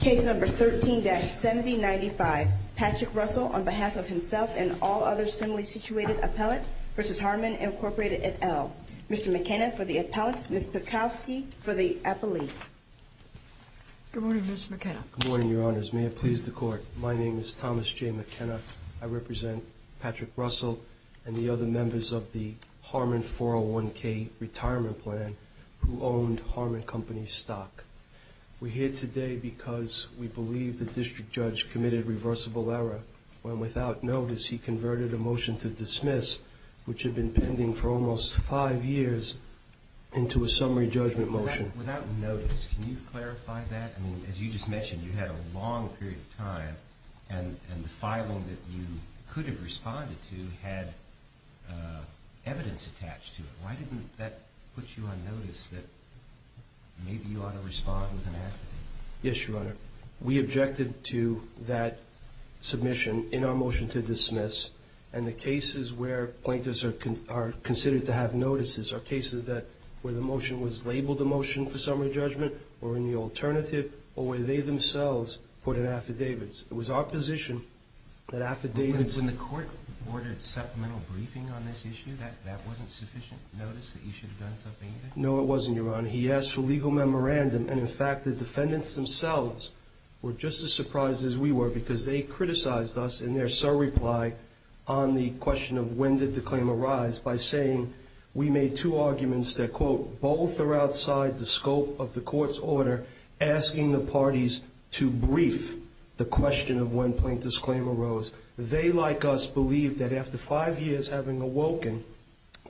Case number 13-7095, Patrick Russell on behalf of himself and all other similarly situated appellate v. Harman, Inc. Mr. McKenna for the appellate, Ms. Piekowski for the appellate. Good morning, Ms. McKenna. Good morning, Your Honors. May it please the Court. My name is Thomas J. McKenna. I represent Patrick Russell and the other members of the Harman 401k retirement plan who owned Harman Company stock. We're here today because we believe the district judge committed reversible error when without notice he converted a motion to dismiss, which had been pending for almost five years, into a summary judgment motion. Without notice, can you clarify that? I mean, as you just mentioned, you had a long period of time and the filing that you could have responded to had evidence attached to it. Why didn't that put you on notice that maybe you ought to respond with an affidavit? Yes, Your Honor. We objected to that submission in our motion to dismiss, and the cases where plaintiffs are considered to have notices are cases where the motion was labeled a motion for summary judgment, or in the alternative, or where they themselves put in affidavits. It was our position that affidavits... When the Court ordered supplemental briefing on this issue, that wasn't sufficient notice that you should have done something? No, it wasn't, Your Honor. He asked for legal memorandum, and in fact, the defendants themselves were just as surprised as we were because they criticized us in their sole reply on the question of when did the claim arise by saying we made two arguments that, quote, both are outside the scope of the Court's order asking the parties to brief the question of when plaintiff's claim arose. They, like us, believed that after five years having awoken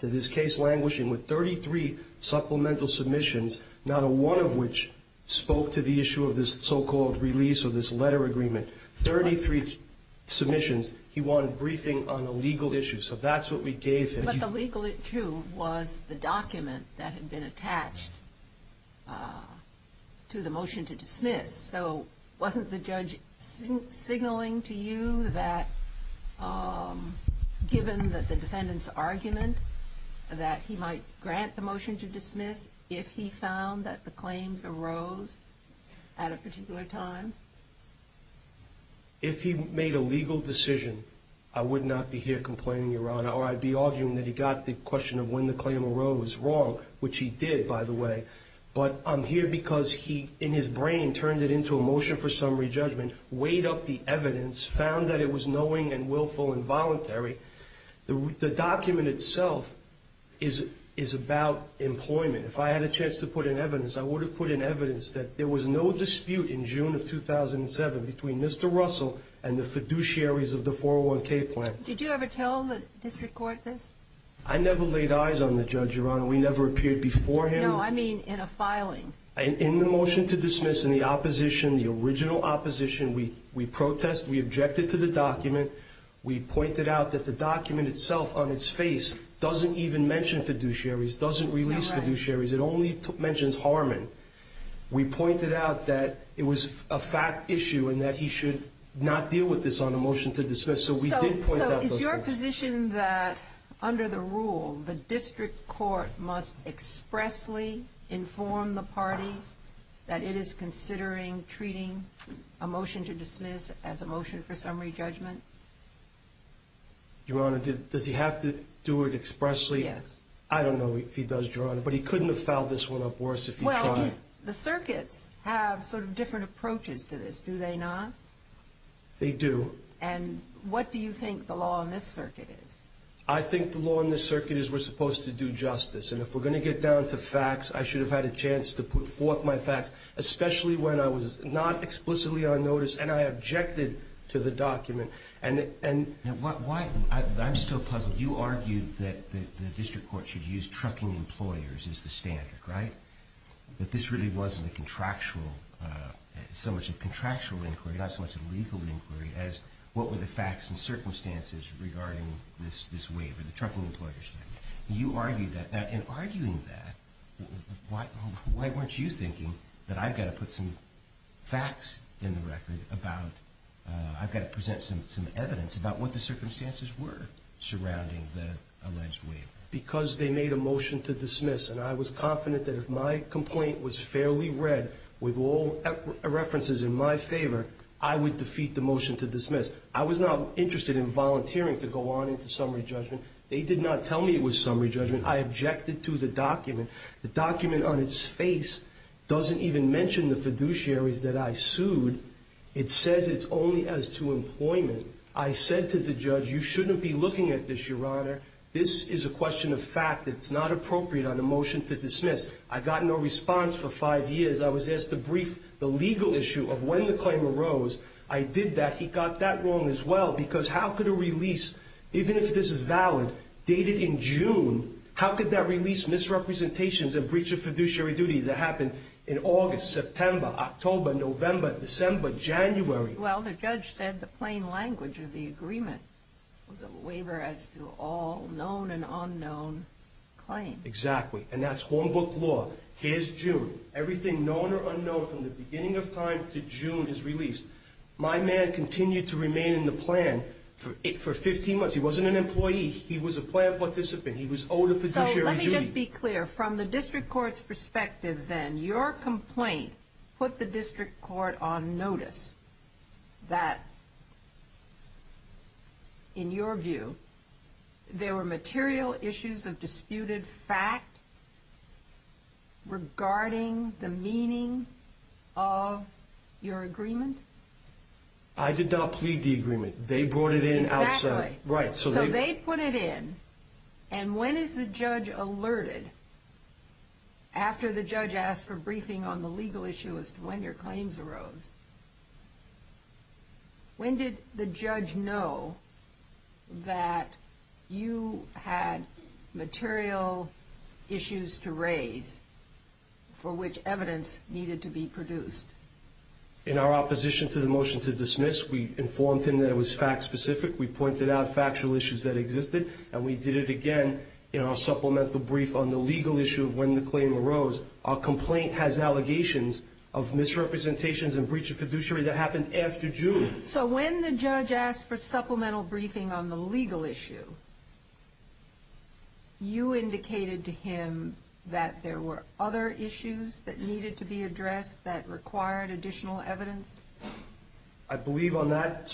to this case languishing with 33 supplemental submissions, not one of which spoke to the issue of this so-called release of this letter agreement, 33 submissions, he wanted briefing on a legal issue. So that's what we gave him. But the legal issue was the document that had been attached to the motion to dismiss. So wasn't the judge signaling to you that given the defendant's argument that he might grant the motion to dismiss if he found that the claims arose at a particular time? If he made a legal decision, I would not be here complaining, Your Honor, or I'd be arguing that he got the question of when the claim arose wrong, which he did, by the way. But I'm here because he, in his brain, turned it into a motion for summary judgment, weighed up the evidence, found that it was knowing and willful and voluntary. The document itself is about employment. If I had a chance to put in evidence, I would have put in evidence that there was no dispute in June of 2007 between Mr. Russell and the fiduciaries of the 401K plan. Did you ever tell the district court this? I never laid eyes on the judge, Your Honor. We never appeared before him. No, I mean in a filing. In the motion to dismiss, in the opposition, the original opposition, we protested. We objected to the document. We pointed out that the document itself, on its face, doesn't even mention fiduciaries, doesn't release fiduciaries. It only mentions Harmon. We pointed out that it was a fact issue and that he should not deal with this on a motion to dismiss. So we did point out those things. So is your position that, under the rule, the district court must expressly inform the parties that it is considering treating a motion to dismiss as a motion for summary judgment? Your Honor, does he have to do it expressly? Yes. I don't know if he does, Your Honor, but he couldn't have filed this one up worse if he tried. Well, the circuits have sort of different approaches to this, do they not? They do. And what do you think the law in this circuit is? I think the law in this circuit is we're supposed to do justice. And if we're going to get down to facts, I should have had a chance to put forth my facts, especially when I was not explicitly on notice and I objected to the document. Now, I'm still puzzled. You argued that the district court should use trucking employers as the standard, right, that this really wasn't so much a contractual inquiry, not so much a legal inquiry, as what were the facts and circumstances regarding this waiver, the trucking employers. You argued that. Now, in arguing that, why weren't you thinking that I've got to put some facts in the record about I've got to present some evidence about what the circumstances were surrounding the alleged waiver? Because they made a motion to dismiss, and I was confident that if my complaint was fairly read with all references in my favor, I would defeat the motion to dismiss. I was not interested in volunteering to go on into summary judgment. They did not tell me it was summary judgment. I objected to the document. The document on its face doesn't even mention the fiduciaries that I sued. It says it's only as to employment. I said to the judge, you shouldn't be looking at this, Your Honor. This is a question of fact. It's not appropriate on a motion to dismiss. I got no response for five years. I was asked to brief the legal issue of when the claim arose. I did that. He got that wrong as well. Because how could a release, even if this is valid, dated in June, how could that release misrepresentations and breach of fiduciary duty that happened in August, September, October, November, December, January? Well, the judge said the plain language of the agreement was a waiver as to all known and unknown claims. Exactly. And that's homebook law. Here's June. Everything known or unknown from the beginning of time to June is released. My man continued to remain in the plan for 15 months. He wasn't an employee. He was a plan participant. He was owed a fiduciary duty. So let me just be clear. From the district court's perspective then, your complaint put the district court on notice that, in your view, there were material issues of disputed fact regarding the meaning of your agreement? I did not plead the agreement. They brought it in outside. Exactly. Right. So they put it in. And when is the judge alerted after the judge asked for briefing on the legal issue as to when your claims arose? When did the judge know that you had material issues to raise for which evidence needed to be produced? In our opposition to the motion to dismiss, we informed him that it was fact-specific. We pointed out factual issues that existed. And we did it again in our supplemental brief on the legal issue of when the claim arose. Our complaint has allegations of misrepresentations and breach of fiduciary that happened after June. So when the judge asked for supplemental briefing on the legal issue, you indicated to him that there were other issues that needed to be addressed that required additional evidence? I believe on the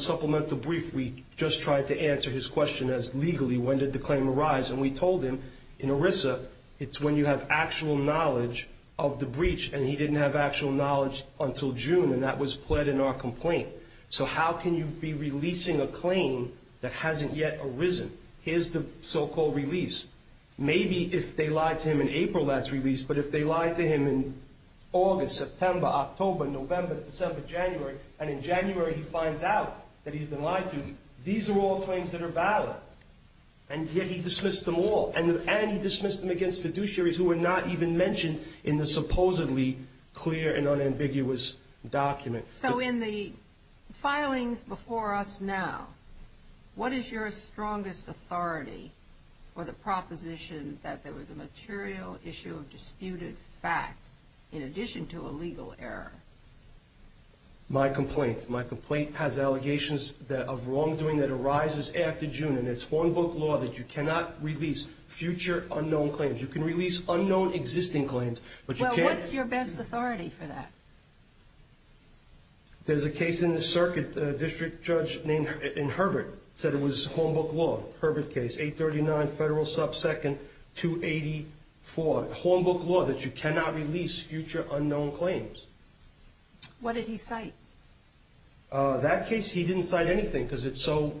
supplemental brief, we just tried to answer his question as, legally, when did the claim arise? And we told him, in ERISA, it's when you have actual knowledge of the breach. And he didn't have actual knowledge until June. And that was pled in our complaint. So how can you be releasing a claim that hasn't yet arisen? Here's the so-called release. Maybe if they lied to him in April, that's released. But if they lied to him in August, September, October, November, December, January, and in January, he finds out that he's been lied to, these are all claims that are valid. And yet he dismissed them all. And he dismissed them against fiduciaries who were not even mentioned in the supposedly clear and unambiguous document. So in the filings before us now, what is your strongest authority for the proposition that there was a material issue of disputed fact in addition to a legal error? My complaint. My complaint has allegations of wrongdoing that arises after June. And it's Hornbook law that you cannot release future unknown claims. You can release unknown existing claims. Well, what's your best authority for that? There's a case in the circuit. A district judge named Herbert said it was Hornbook law, Herbert case, 839 Federal sub 2nd 284. Hornbook law that you cannot release future unknown claims. What did he cite? That case, he didn't cite anything because it's so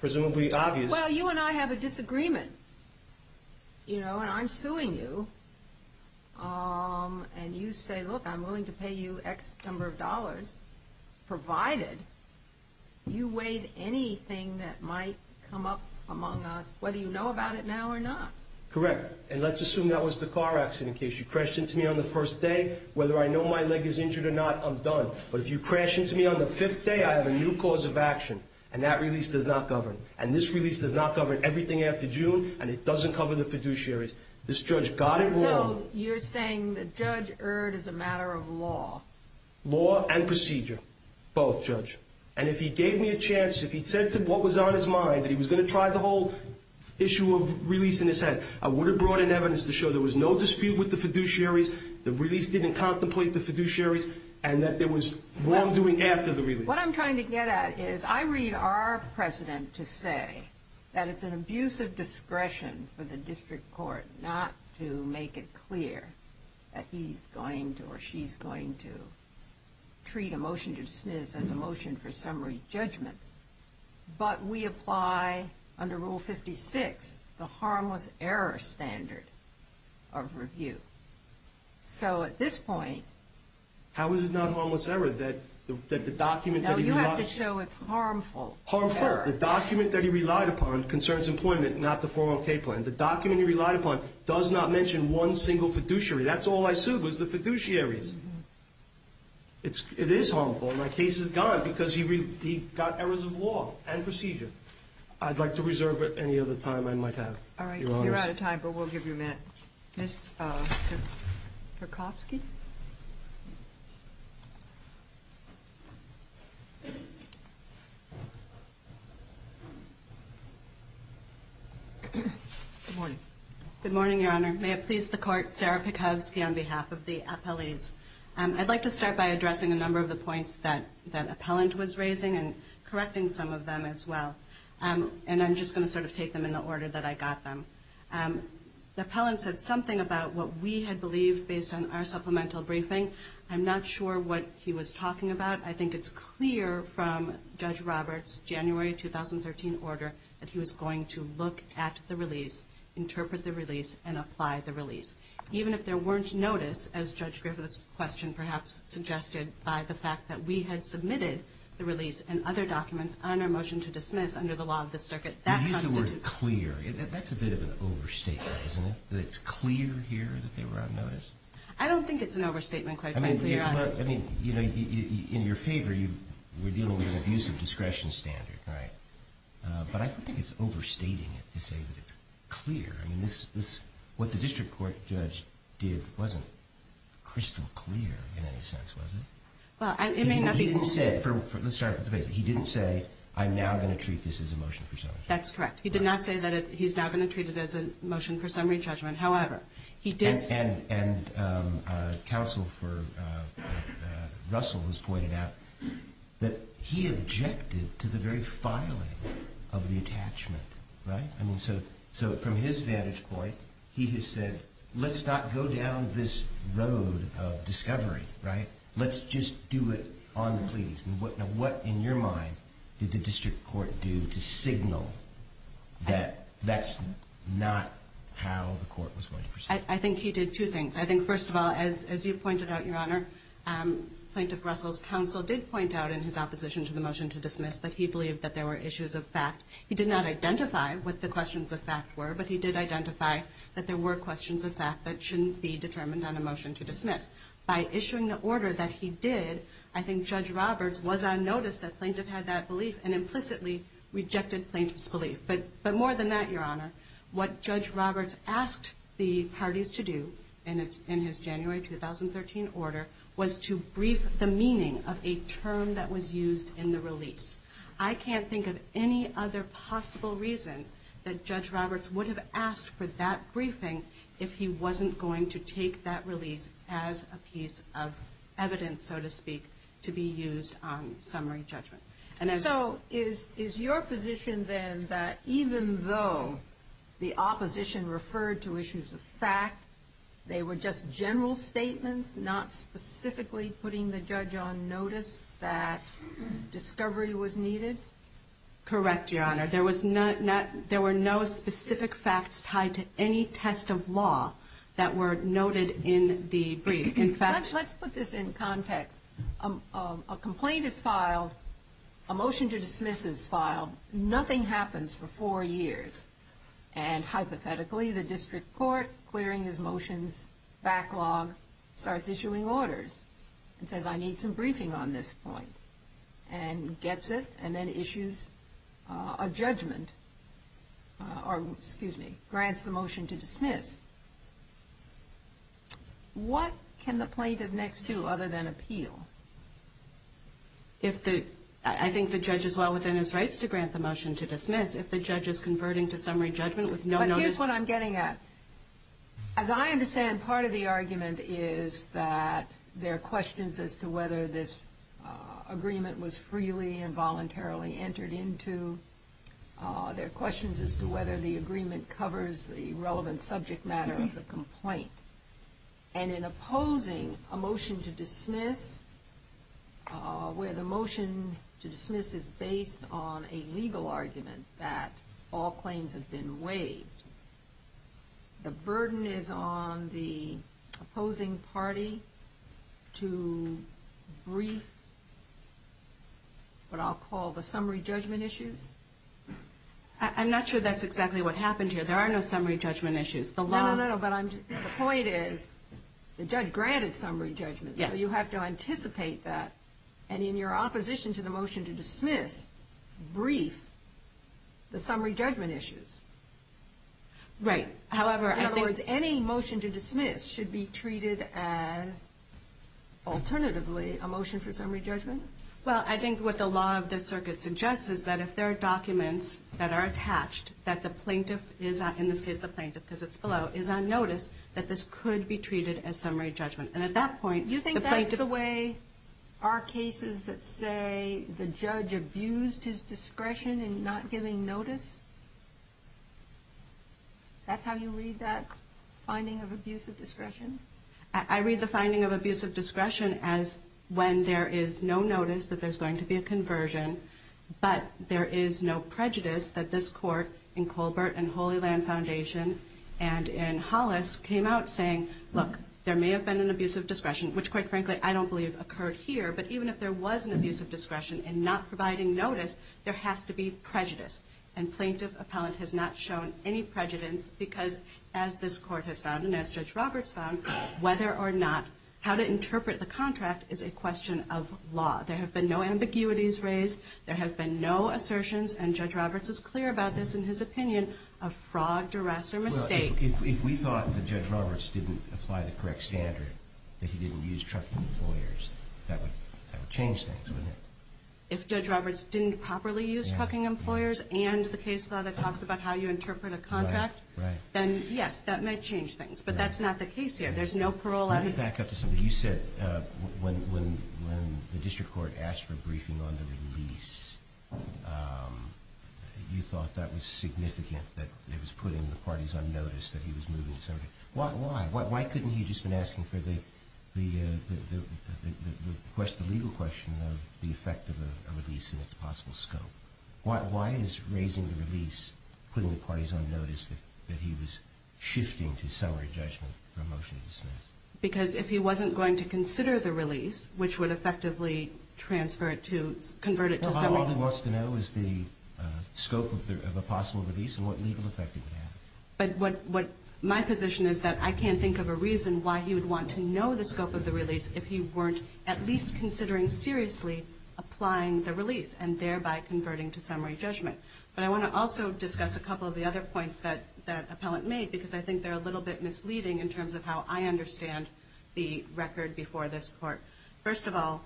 presumably obvious. Well, you and I have a disagreement, you know, and I'm suing you. And you say, look, I'm willing to pay you X number of dollars provided you weighed anything that might come up among us, whether you know about it now or not. Correct. And let's assume that was the car accident case. If you crashed into me on the first day, whether I know my leg is injured or not, I'm done. But if you crash into me on the fifth day, I have a new cause of action. And that release does not govern. And this release does not govern everything after June. And it doesn't cover the fiduciaries. This judge got it wrong. So you're saying that Judge Erd is a matter of law? Law and procedure. Both, Judge. And if he gave me a chance, if he'd said what was on his mind, that he was going to try the whole issue of releasing this head, I would have brought in evidence to show there was no dispute with the fiduciaries, the release didn't contemplate the fiduciaries, and that there was wrongdoing after the release. What I'm trying to get at is I read our precedent to say that it's an abuse of discretion for the district court not to make it clear that he's going to or she's going to treat a motion to dismiss as a motion for summary judgment. But we apply, under Rule 56, the harmless error standard of review. So at this point... How is it not harmless error that the document that he... No, you have to show it's harmful error. Harmful. The document that he relied upon concerns employment, not the 401k plan. The document he relied upon does not mention one single fiduciary. That's all I sued was the fiduciaries. It is harmful. My case is gone because he got errors of law and procedure. I'd like to reserve any other time I might have, Your Honor. All right. You're out of time, but we'll give you a minute. Ms. Kokowski? Good morning. Good morning, Your Honor. May it please the Court, Sarah Kokowski on behalf of the appellees. I'd like to start by addressing a number of the points that the appellant was raising and correcting some of them as well. And I'm just going to sort of take them in the order that I got them. The appellant said something about what we had believed based on our supplemental briefing. I'm not sure what he was talking about. I think it's clear from Judge Roberts' January 2013 order that he was going to look at the release, interpret the release, and apply the release. Even if there weren't notice, as Judge Griffith's question perhaps suggested, by the fact that we had submitted the release and other documents on our motion to dismiss under the law of the circuit, that constitutes. You used the word clear. That's a bit of an overstatement, isn't it, that it's clear here that they were on notice? I don't think it's an overstatement, quite frankly, Your Honor. Well, I mean, in your favor, you were dealing with an abusive discretion standard, right? But I don't think it's overstating it to say that it's clear. I mean, what the district court judge did wasn't crystal clear in any sense, was it? Well, it may not be. Let's start at the base. He didn't say, I'm now going to treat this as a motion for summary judgment. That's correct. He did not say that he's now going to treat it as a motion for summary judgment. And counsel for Russell has pointed out that he objected to the very filing of the attachment, right? I mean, so from his vantage point, he has said, let's not go down this road of discovery, right? Let's just do it on the pleas. Now, what in your mind did the district court do to signal that that's not how the court was going to proceed? I think he did two things. I think, first of all, as you pointed out, Your Honor, Plaintiff Russell's counsel did point out in his opposition to the motion to dismiss that he believed that there were issues of fact. He did not identify what the questions of fact were, but he did identify that there were questions of fact that shouldn't be determined on a motion to dismiss. By issuing the order that he did, I think Judge Roberts was on notice that plaintiff had that belief and implicitly rejected plaintiff's belief. But more than that, Your Honor, what Judge Roberts asked the parties to do in his January 2013 order was to brief the meaning of a term that was used in the release. I can't think of any other possible reason that Judge Roberts would have asked for that briefing if he wasn't going to take that release as a piece of evidence, so to speak, to be used on summary judgment. So is your position then that even though the opposition referred to issues of fact, they were just general statements, not specifically putting the judge on notice that discovery was needed? Correct, Your Honor. There were no specific facts tied to any test of law that were noted in the brief. Let's put this in context. A complaint is filed. A motion to dismiss is filed. Nothing happens for four years. And hypothetically, the district court, clearing his motions, backlog, starts issuing orders and says, I need some briefing on this point and gets it and then issues a judgment or grants the motion to dismiss. What can the plaintiff next do other than appeal? I think the judge is well within his rights to grant the motion to dismiss. If the judge is converting to summary judgment with no notice... But here's what I'm getting at. As I understand, part of the argument is that there are questions as to whether this agreement was freely and voluntarily entered into. There are questions as to whether the agreement covers the relevant subject matter of the complaint. And in opposing a motion to dismiss where the motion to dismiss is based on a legal argument that all claims have been waived, the burden is on the opposing party to brief what I'll call the summary judgment issues? I'm not sure that's exactly what happened here. There are no summary judgment issues. No, no, no. But the point is the judge granted summary judgment. Yes. So you have to anticipate that. And in your opposition to the motion to dismiss, brief the summary judgment issues. Right. However, I think... In other words, any motion to dismiss should be treated as, alternatively, a motion for summary judgment? Well, I think what the law of this circuit suggests is that if there are documents that are attached that the plaintiff is, in this case the plaintiff because it's below, is on notice, that this could be treated as summary judgment. And at that point... You think that's the way our cases that say the judge abused his discretion in not giving notice? That's how you read that finding of abusive discretion? I read the finding of abusive discretion as when there is no notice that there's going to be a conversion, but there is no prejudice that this court in Colbert and Holy Land Foundation and in Hollis came out saying, look, there may have been an abusive discretion, which, quite frankly, I don't believe occurred here. But even if there was an abusive discretion in not providing notice, there has to be prejudice. And plaintiff-appellant has not shown any prejudice because, as this court has found and as Judge Roberts found, whether or not how to interpret the contract is a question of law. There have been no ambiguities raised. There have been no assertions, and Judge Roberts is clear about this in his opinion, of frogged arrest or mistake. Well, if we thought that Judge Roberts didn't apply the correct standard, that he didn't use trucking employers, that would change things, wouldn't it? If Judge Roberts didn't properly use trucking employers and the case law that talks about how you interpret a contract, then, yes, that might change things. But that's not the case here. There's no parole. Let me back up to something. You said when the district court asked for a briefing on the release, you thought that was significant, that it was putting the parties on notice that he was moving the subject. Why? Why couldn't he have just been asking for the legal question of the effect of a release and its possible scope? Why is raising the release putting the parties on notice that he was shifting to summary judgment for a motion to dismiss? Because if he wasn't going to consider the release, which would effectively transfer it to – convert it to summary – Well, all he wants to know is the scope of a possible release and what legal effect it would have. But my position is that I can't think of a reason why he would want to know the scope of the release if he weren't at least considering seriously applying the release and thereby converting to summary judgment. But I want to also discuss a couple of the other points that Appellant made because I think they're a little bit misleading in terms of how I understand the record before this court. First of all,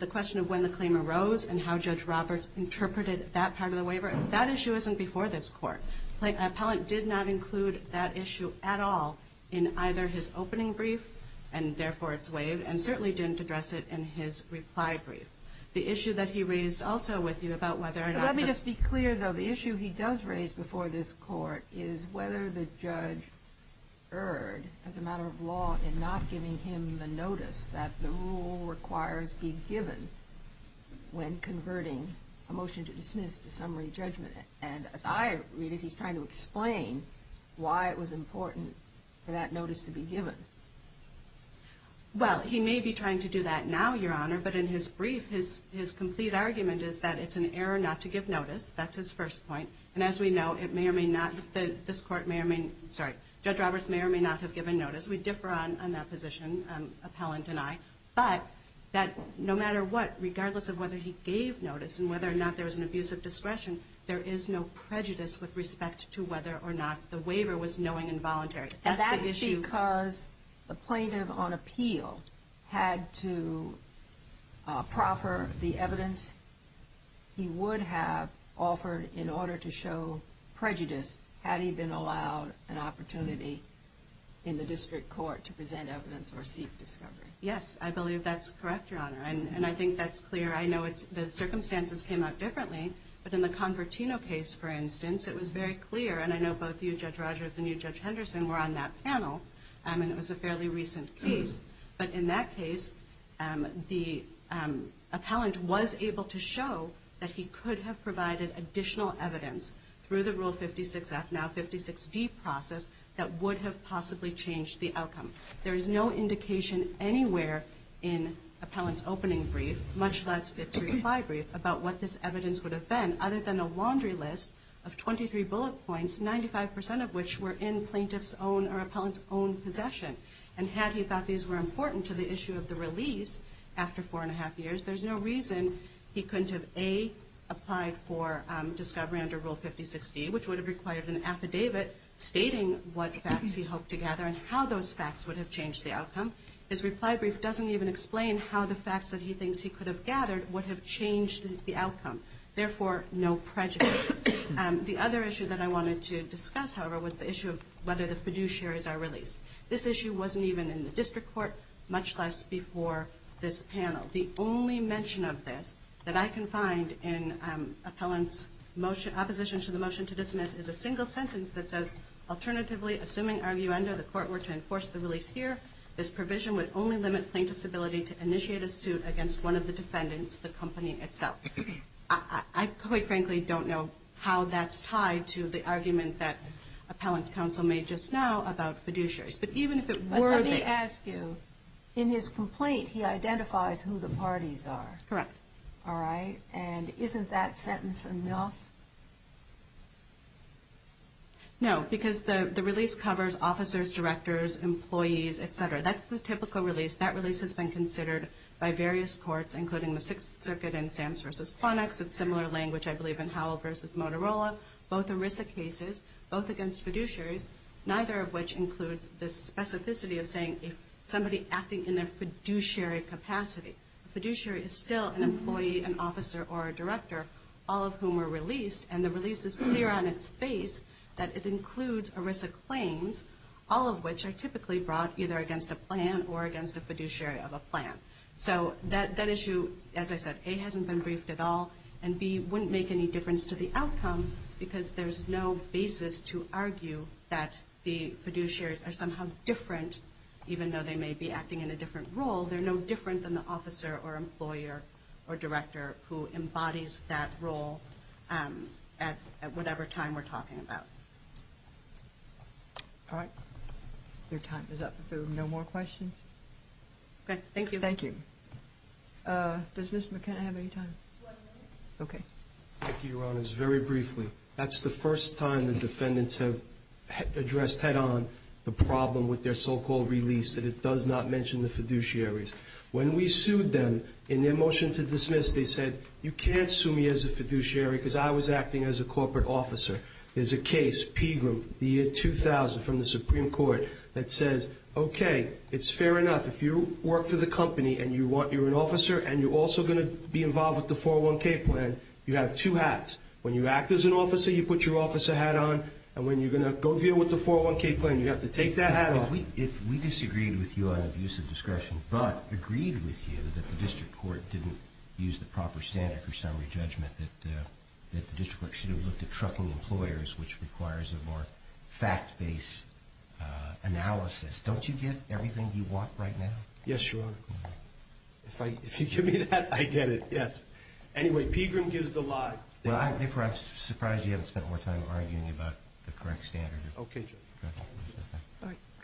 the question of when the claim arose and how Judge Roberts interpreted that part of the waiver, that issue isn't before this court. Appellant did not include that issue at all in either his opening brief, and therefore its waive, and certainly didn't address it in his reply brief. The issue that he raised also with you about whether or not – Let me just be clear, though. The issue he does raise before this court is whether the judge erred as a matter of law in not giving him the notice that the rule requires be given when converting a motion to dismiss to summary judgment. And as I read it, he's trying to explain why it was important for that notice to be given. Well, he may be trying to do that now, Your Honor, but in his brief, his complete argument is that it's an error not to give notice. That's his first point. And as we know, it may or may not – this court may or may – sorry – Judge Roberts may or may not have given notice. We differ on that position, Appellant and I. But that no matter what, regardless of whether he gave notice and whether or not there was an abuse of discretion, there is no prejudice with respect to whether or not the waiver was knowing and voluntary. And that's the issue – And that's because the plaintiff on appeal had to proffer the evidence he would have offered in order to show prejudice had he been allowed an opportunity in the district court to present evidence or seek discovery. Yes, I believe that's correct, Your Honor. And I think that's clear. I know the circumstances came out differently. But in the Convertino case, for instance, it was very clear, and I know both you, Judge Rogers, and you, Judge Henderson, were on that panel, and it was a fairly recent case. But in that case, the appellant was able to show that he could have provided additional evidence through the Rule 56F, now 56D process, that would have possibly changed the outcome. There is no indication anywhere in Appellant's opening brief, much less its reply brief, about what this evidence would have been, other than a laundry list of 23 bullet points, 95 percent of which were in plaintiff's own or appellant's own possession. And had he thought these were important to the issue of the release after four and a half years, there's no reason he couldn't have, A, applied for discovery under Rule 56D, which would have required an affidavit stating what facts he hoped to gather and how those facts would have changed the outcome. His reply brief doesn't even explain how the facts that he thinks he could have gathered would have changed the outcome. Therefore, no prejudice. The other issue that I wanted to discuss, however, was the issue of whether the fiduciaries are released. This issue wasn't even in the district court, much less before this panel. The only mention of this that I can find in Appellant's opposition to the motion to dismiss is a single sentence that says, alternatively, assuming arguendo the court were to enforce the release here, this provision would only limit plaintiff's ability to initiate a suit against one of the defendants, the company itself. I quite frankly don't know how that's tied to the argument that Appellant's counsel made just now about fiduciaries. But even if it were to... But let me ask you, in his complaint, he identifies who the parties are. Correct. All right? And isn't that sentence enough? No, because the release covers officers, directors, employees, et cetera. That's the typical release. That release has been considered by various courts, including the Sixth Circuit and Sam's v. Quantics. It's similar language, I believe, in Howell v. Motorola. Both ERISA cases, both against fiduciaries, neither of which includes this specificity of saying somebody acting in their fiduciary capacity. A fiduciary is still an employee, an officer, or a director, all of whom are released. And the release is clear on its face that it includes ERISA claims, all of which are typically brought either against a plan or against a fiduciary of a plan. So that issue, as I said, A, hasn't been briefed at all, and B, wouldn't make any difference to the outcome, because there's no basis to argue that the fiduciaries are somehow different, even though they may be acting in a different role. They're no different than the officer or employer or director who embodies that role at whatever time we're talking about. All right. Your time is up. If there are no more questions? Okay. Thank you. Thank you. Does Mr. McKenna have any time? One minute. Okay. Thank you, Your Honors. Very briefly, that's the first time the defendants have addressed head on the problem with their so-called release, that it does not mention the fiduciaries. When we sued them in their motion to dismiss, they said, you can't sue me as a fiduciary because I was acting as a corporate officer. There's a case, Pegram, the year 2000 from the Supreme Court, that says, okay, it's fair enough. If you work for the company and you're an officer and you're also going to be involved with the 401K plan, you have two hats. When you act as an officer, you put your officer hat on, and when you're going to go deal with the 401K plan, you have to take that hat off. If we disagreed with you on abuse of discretion but agreed with you that the district court didn't use the proper standard for summary judgment, that the district court should have looked at trucking employers, which requires a more fact-based analysis, don't you get everything you want right now? Yes, Your Honor. If you give me that, I get it. Yes. Anyway, Pegram gives the lie. I'm surprised you haven't spent more time arguing about the correct standard. Okay, Judge. All right.